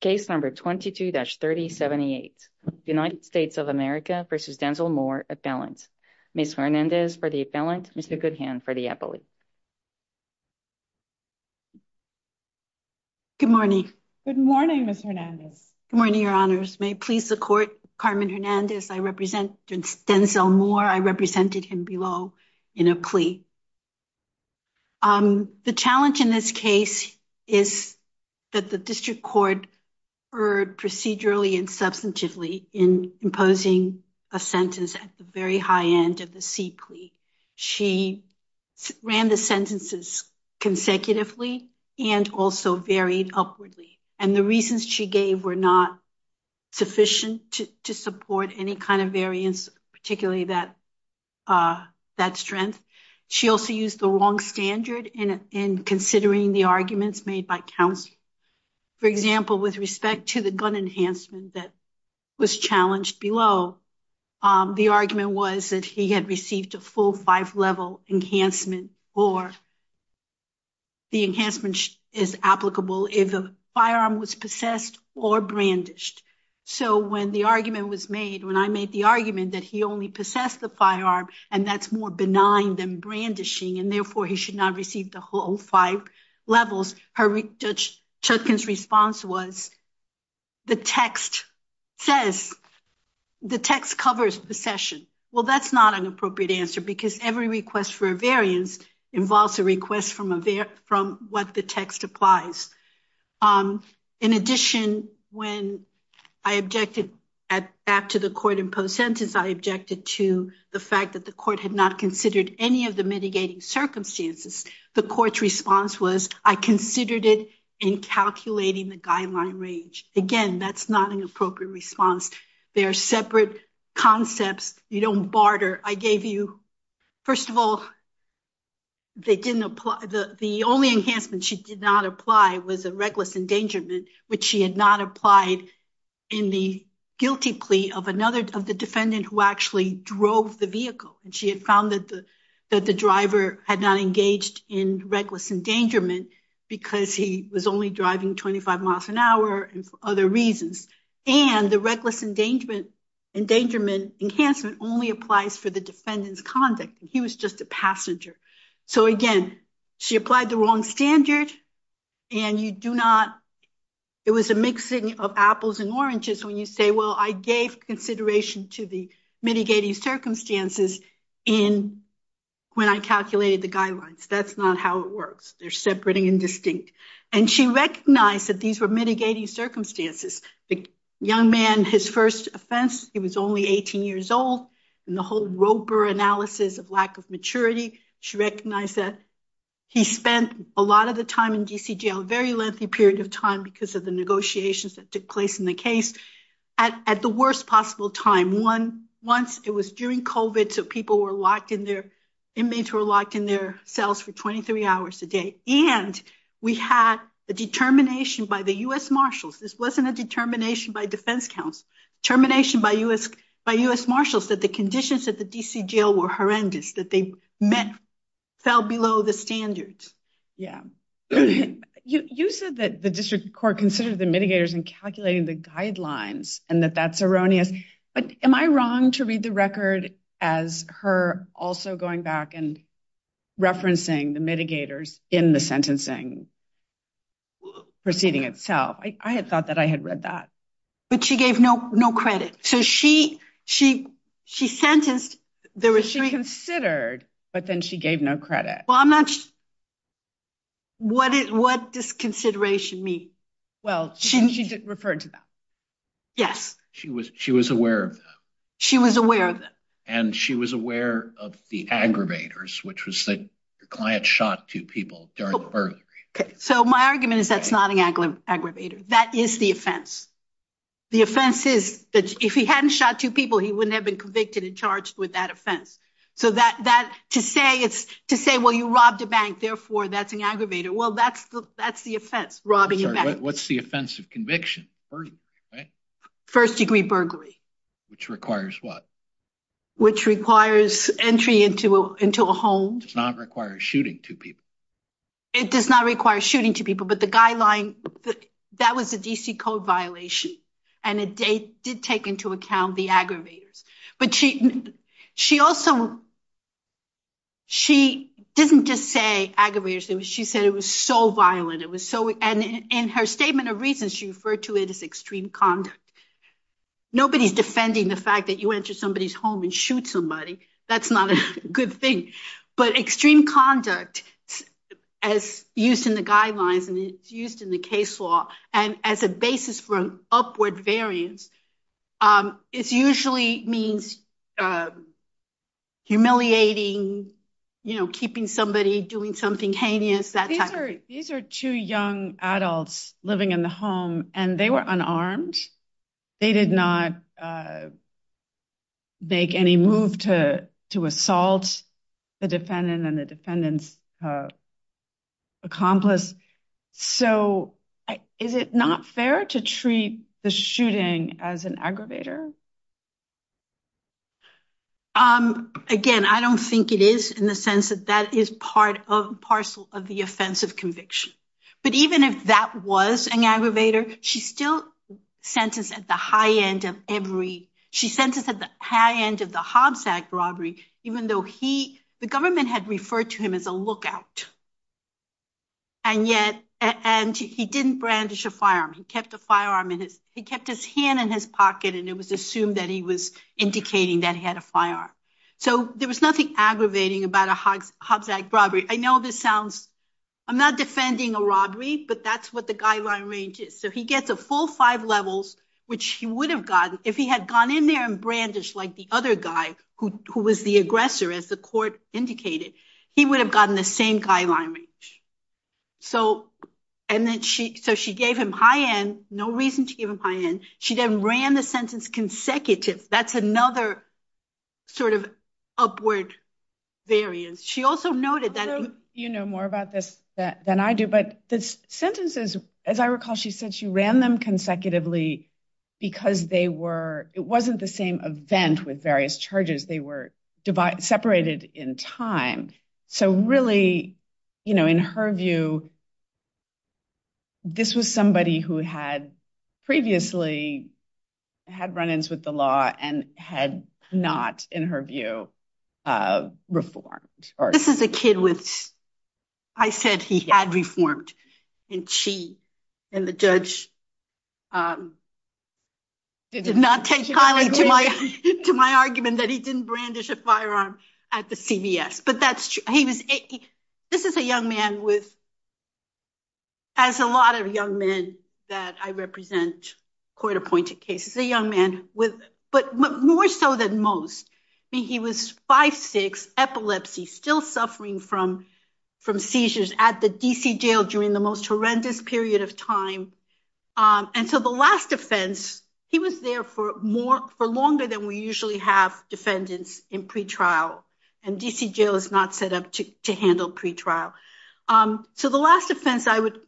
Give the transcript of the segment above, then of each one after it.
Case number 22-3078, United States of America v. Denzell Moore, appellant. Ms. Hernandez for the appellant, Mr. Goodhand for the appellate. Good morning. Good morning, Ms. Hernandez. Good morning, your honors. May it please the court, Carmen Hernandez, I represent Denzell Moore. I represented him below in a plea. The challenge in this case is that the district court erred procedurally and substantively in imposing a sentence at the very high end of the C plea. She ran the sentences consecutively and also varied upwardly. And the reasons she gave were not sufficient to support any kind of variance, particularly that strength. She also used the wrong standard in considering the arguments made by counsel. For example, with respect to the gun enhancement that was challenged below, the argument was that he had received a full five-level enhancement or the enhancement is applicable if a firearm was possessed or brandished. So when the argument when I made the argument that he only possessed the firearm and that's more benign than brandishing and therefore he should not receive the whole five levels, Judge Chudkin's response was the text says, the text covers possession. Well, that's not an appropriate answer because every request for a variance involves a request from what the text applies. In addition, when I objected back to the court in post-sentence, I objected to the fact that the court had not considered any of the mitigating circumstances. The court's response was, I considered it in calculating the guideline range. Again, that's not an appropriate response. They are separate concepts. You don't barter. I gave you, first of all, the only enhancement she did not apply was a reckless endangerment, which she had not applied in the guilty plea of the defendant who actually drove the vehicle. She had found that the driver had not engaged in reckless endangerment because he was only driving 25 miles an hour and for other reasons. And the reckless endangerment enhancement only involves the defendant's conduct. He was just a passenger. So again, she applied the wrong standard and you do not, it was a mixing of apples and oranges when you say, well, I gave consideration to the mitigating circumstances when I calculated the guidelines. That's not how it works. They're separating and distinct. And she recognized that these were mitigating circumstances. The young man, his first offense, he was only 18 years old. And the whole Roper analysis of lack of maturity, she recognized that he spent a lot of the time in DC jail, very lengthy period of time because of the negotiations that took place in the case at the worst possible time. Once it was during COVID, so people were locked in their, inmates were locked in their cells for termination by defense counsel, termination by US marshals, that the conditions at the DC jail were horrendous, that they met, fell below the standards. Yeah. You said that the district court considered the mitigators in calculating the guidelines and that that's erroneous, but am I wrong to read the record as her also going back and referencing the mitigators in the But she gave no, no credit. So she, she, she sentenced there was she considered, but then she gave no credit. Well, I'm not sure what it, what does consideration mean? Well, she referred to that. Yes. She was, she was aware of that. She was aware of that. And she was aware of the aggravators, which was the client shot two people during the murder. So my argument is that's not an aggravator. That is the offense. The offense is that if he hadn't shot two people, he wouldn't have been convicted and charged with that offense. So that, that to say, it's to say, well, you robbed a bank, therefore that's an aggravator. Well, that's, that's the offense robbing. What's the offensive conviction? First degree burglary, which requires what? Which requires entry into a, into a home does not require shooting two people. It does not require shooting two people, but the guideline that was a DC code violation and a date did take into account the aggravators, but she, she also, she doesn't just say aggravators. It was, she said it was so violent. It was so, and in her statement of reasons, she referred to it as extreme conduct. Nobody's defending the fact that you enter somebody's home and shoot somebody. That's not a good thing, but extreme conduct as used in the guidelines and it's used in the case law and as a basis for upward variance, it's usually means humiliating, you know, keeping somebody doing something heinous, that type of thing. These are two young adults living in the home and they were unarmed. They did not make any move to, to assault the defendant and the defendant's accomplice. So is it not fair to treat the shooting as an aggravator? Again, I don't think it is in the sense that that is part of parcel of the offensive conviction, but even if that was an aggravator, she's still sentenced at the high end of every, she sentenced at the high end of the Hobbs Act robbery, even though he, the government had referred to him as a lookout and yet, and he didn't brandish a firearm. He kept a firearm in his, he kept his hand in his pocket and it was assumed that he was indicating that he had a firearm. So there was nothing aggravating about a Hobbs Act robbery. I know this sounds, I'm not defending a robbery, but that's what the guideline range is. So he gets a full five levels, which he would have gotten if he had gone in there and brandished like the other guy who, who was the aggressor as the court indicated, he would have gotten the same guideline range. So, and then she, so she gave him high end, no reason to give him high end. She then ran the sentence consecutive. That's another sort of upward variance. She also noted that- You know more about this than I do, but the sentences, as I recall, she said she ran them consecutively because they were, it wasn't the same event with various charges. They were separated in time. So really, you know, in her view, this was somebody who had previously had run-ins with the law and had not, in her view, reformed or- This is a kid with, I said he had reformed and she and the judge did not take kindly to my, to my argument that he didn't brandish a firearm at the CVS. But that's, he was, this is a young man with, as a lot of young men that I represent court appointed cases, a young man with, but more so than most, I mean, he was five, six, epilepsy, still suffering from, from seizures at the DC jail during the most horrendous period of time. And so the last offense, he was there for more, for longer than we usually have defendants in pretrial. And DC jail is not set up to, to handle pretrial. So the last offense I would,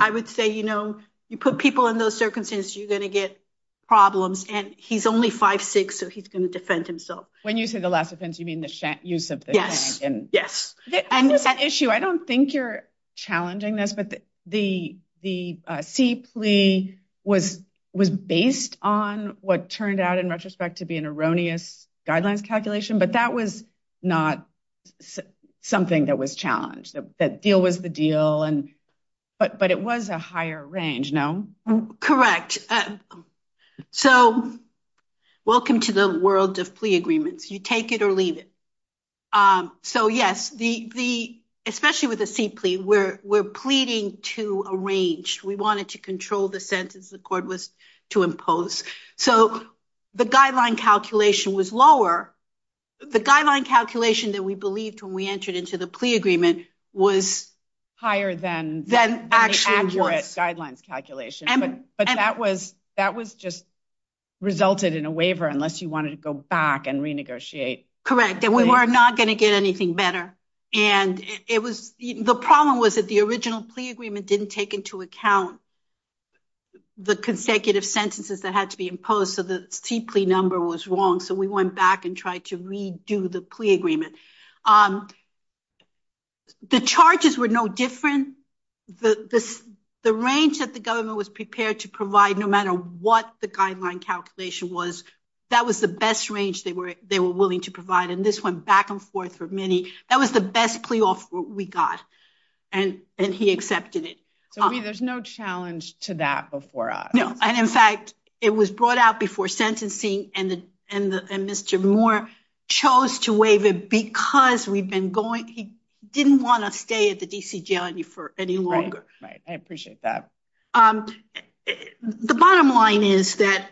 I would say, you know, you put people in those circumstances, you're going to get problems and he's only five, six, so he's going to defend himself. When you say the last offense, you mean the use of the- Yes. Yes. And that issue, I don't think you're challenging this, but the, the C plea was, was based on what turned out in retrospect to be an not something that was challenged. That deal was the deal and, but, but it was a higher range, no? Correct. So welcome to the world of plea agreements. You take it or leave it. So yes, the, the, especially with the C plea, we're, we're pleading to arrange, we wanted to control the sentence the court was to impose. So the guideline calculation was lower. The guideline calculation that we believed when we entered into the plea agreement was- Higher than, than the accurate guidelines calculation. But that was, that was just resulted in a waiver unless you wanted to go back and renegotiate. Correct. And we were not going to get anything better. And it was, the problem was that the original plea agreement didn't take into account the consecutive sentences that had to be imposed. So the C plea number was wrong. So we went back and tried to redo the plea agreement. The charges were no different. The, this, the range that the government was prepared to provide, no matter what the guideline calculation was, that was the best range they were, they were willing to provide. And this went back and forth for many, that was the best plea offer we got. And, and he accepted it. So there's no challenge to that before us. And in fact, it was brought out before sentencing and the, and the, and Mr. Moore chose to waive it because we've been going, he didn't want to stay at the DC jail for any longer. Right. I appreciate that. The bottom line is that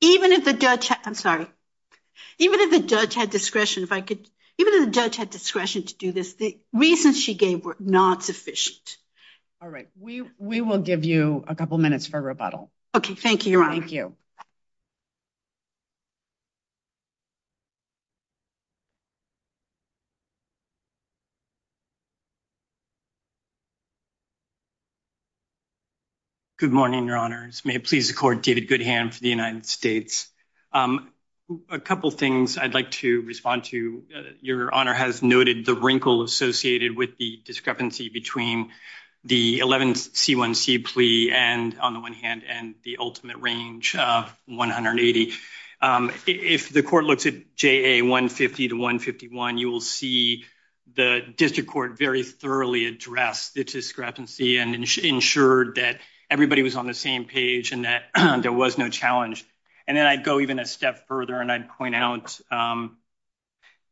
even if the judge, I'm sorry, even if the judge had discretion, if I could, even if the judge had discretion to do this, the reasons she gave were not sufficient. All right. We, we will give you a couple minutes for rebuttal. Okay. Thank you, Your Honor. Thank you. Good morning, Your Honors. May it please the court, David Goodham for the United States. A couple of things I'd like to respond to. Your Honor has noted the wrinkle associated with the 11C1C plea and on the one hand and the ultimate range of 180. If the court looks at JA 150 to 151, you will see the district court very thoroughly addressed the discrepancy and ensured that everybody was on the same page and that there was no challenge. And then I'd go even a step further and I'd point out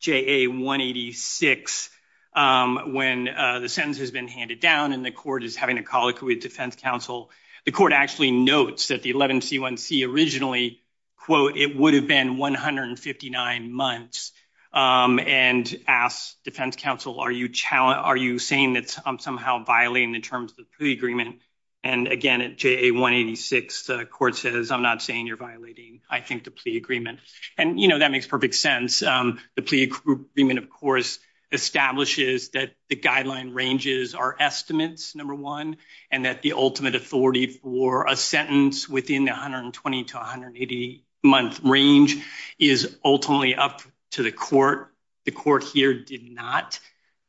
JA 186 when the sentence has been handed down and the court is having a colloquy with defense counsel, the court actually notes that the 11C1C originally, quote, it would have been 159 months and ask defense counsel, are you challenging, are you saying that I'm somehow violating the terms of the plea agreement? And again, at JA 186, the court says, I'm not saying you're violating, I think, the plea agreement. And, you know, that makes perfect sense. The plea agreement, of course, establishes that the guideline ranges are estimates, number one, and that the ultimate authority for a sentence within the 120 to 180 month range is ultimately up to the court. The court here did not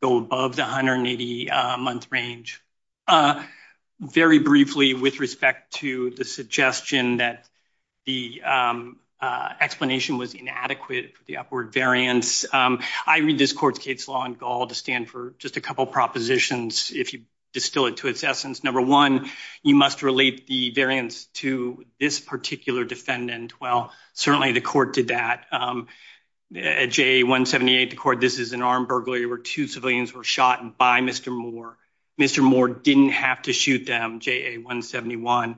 go above the 180 month range. Very briefly with respect to the suggestion that the explanation was inadequate for the upward variance, I read this court's case law in Gaul to stand for just a couple of propositions. If you distill it to its essence, number one, you must relate the variance to this particular defendant. Well, certainly the court did that. At JA 178, the court, this is an armed burglary where two civilians were shot by Mr. Moore. Mr. Moore didn't have to shoot them, JA 171.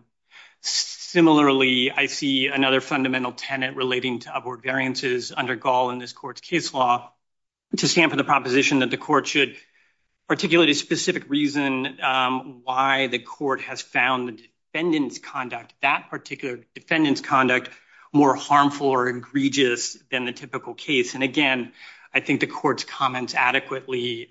Similarly, I see another fundamental tenet relating to upward variances under Gaul in this court's case law to stand for the proposition that the court should articulate a specific reason why the court has found the defendant's conduct, that particular defendant's conduct, more harmful or egregious than the typical case. And again, I think the court's comments adequately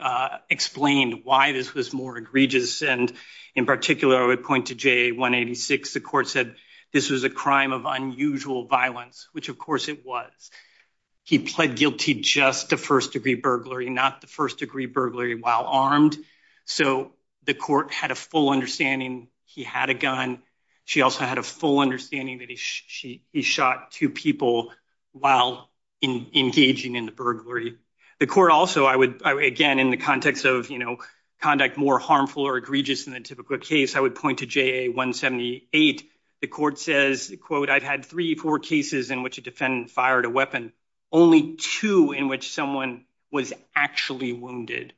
explained why this was more egregious. And in particular, I would point to JA 186. The court said this was a crime of unusual violence, which of course it was. He pled guilty just to first degree burglary, not the first degree burglary while armed. So the court had a full understanding he had a gun. She also had a full understanding that he shot two people while engaging in the burglary. The court also, I would again, in the context of conduct more harmful or egregious than the typical case, I would point to JA 178. The court says, quote, I've had three, four cases in which a defendant fired a weapon, only two in which someone was actually wounded.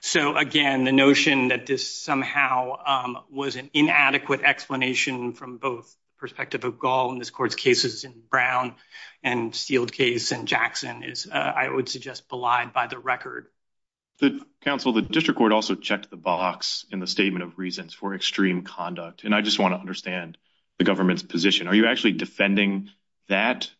So again, the notion that this somehow was an effect of a gall in this court's cases in Brown and Steele case and Jackson is, I would suggest, belied by the record. Counsel, the district court also checked the box in the statement of reasons for extreme conduct. And I just want to understand the government's position. Are you actually defending that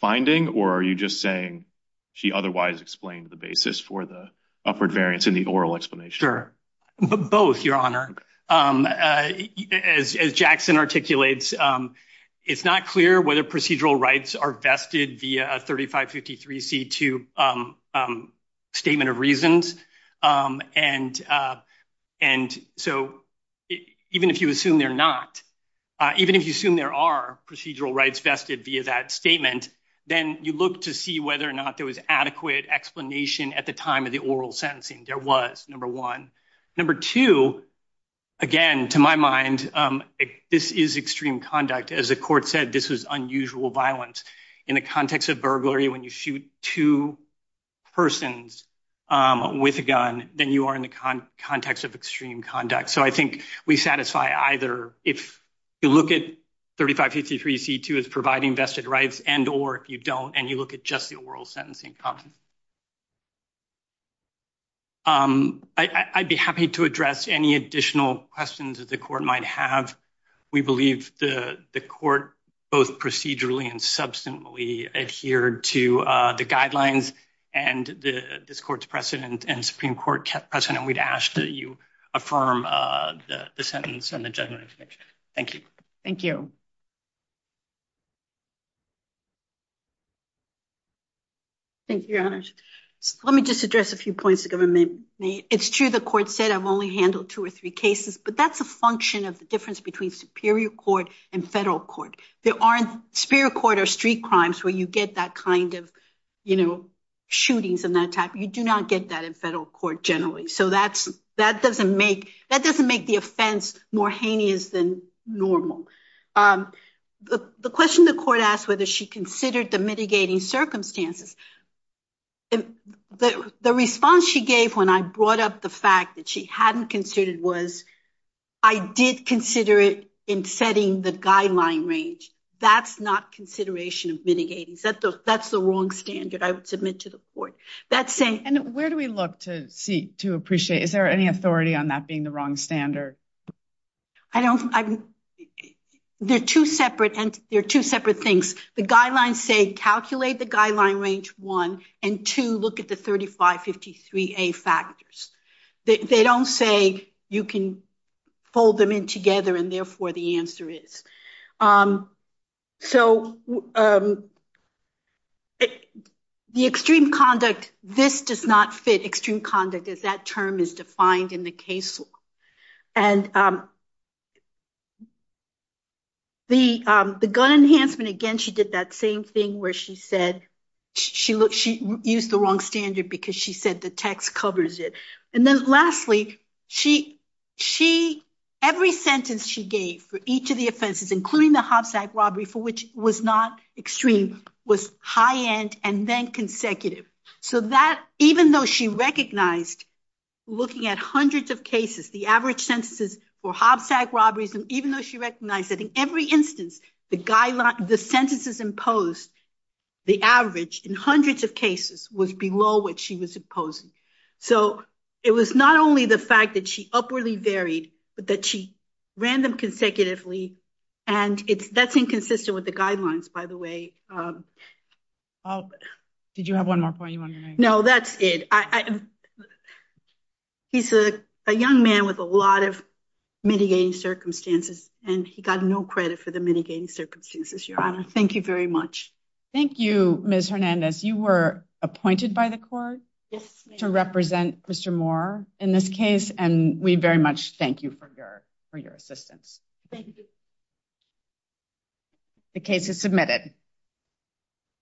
finding or are you just saying she otherwise explained the basis for the upward variance in the oral explanation or both? Your Honor, as Jackson articulates, it's not clear whether procedural rights are vested via a thirty five fifty three C2 statement of reasons. And and so even if you assume they're not, even if you assume there are procedural rights vested via that statement, then you look to see whether or not there was adequate explanation at the time of the oral sentencing. There was number one. Number two, again, to my mind, this is extreme conduct. As the court said, this was unusual violence in the context of burglary. When you shoot two persons with a gun, then you are in the context of extreme conduct. So I think we satisfy either if you look at thirty five fifty three C2 is providing vested rights and or if you don't and you look at just the oral sentencing. I'd be happy to address any additional questions that the court might have. We believe the court both procedurally and substantially adhered to the guidelines and this court's precedent and Supreme Court precedent. We'd ask that you affirm the sentence and the judgment. Thank you. Thank you. Thank you, Your Honor. Let me just address a few points the government made. It's true. The court said I've only handled two or three cases, but that's a function of the difference between superior court and federal court. There aren't superior court or street crimes where you get that kind of, you know, shootings and that type. You do not get that in federal court generally. So that's that doesn't make that doesn't make the offense more heinous than normal. The question the court asked whether she considered the mitigating circumstances. The response she gave when I brought up the fact that she hadn't considered was I did consider it in setting the guideline range. That's not consideration of mitigating. That's the wrong standard. I would submit to the court that same. And where do we look to see to appreciate? Is there any authority on that being the wrong standard? I don't. There are two separate and there are two separate things. The guidelines say calculate the guideline range one and to look at the 3553A factors. They don't say you can fold them in together and therefore the answer is. So the extreme conduct, this does not fit extreme conduct as that term is defined in the case law. And the the gun enhancement again, she did that same thing where she said she looked she used the wrong standard because she said the text covers it. And then lastly, she she every sentence she gave for each of the offenses, including the hopsack robbery for which was not extreme, was high end and then consecutive. So that even though she recognized looking at hundreds of cases, the average sentences for hopsack robberies, and even though she recognized that in every instance, the guideline, the sentences imposed, the average in hundreds of cases was below what she was imposing. So it was not only the fact that she upwardly varied, but that she ran them consecutively. And it's that's inconsistent with the guidelines, by the way. Oh, did you have one more point? No, that's it. He's a young man with a lot of mitigating circumstances. And he got no credit for the mitigating circumstances. Your Honor. Thank you very much. Thank you, Ms. Hernandez. You were appointed by the court to represent Mr. Moore in this case. And we very much thank you for your for your assistance. Thank you. The case is submitted.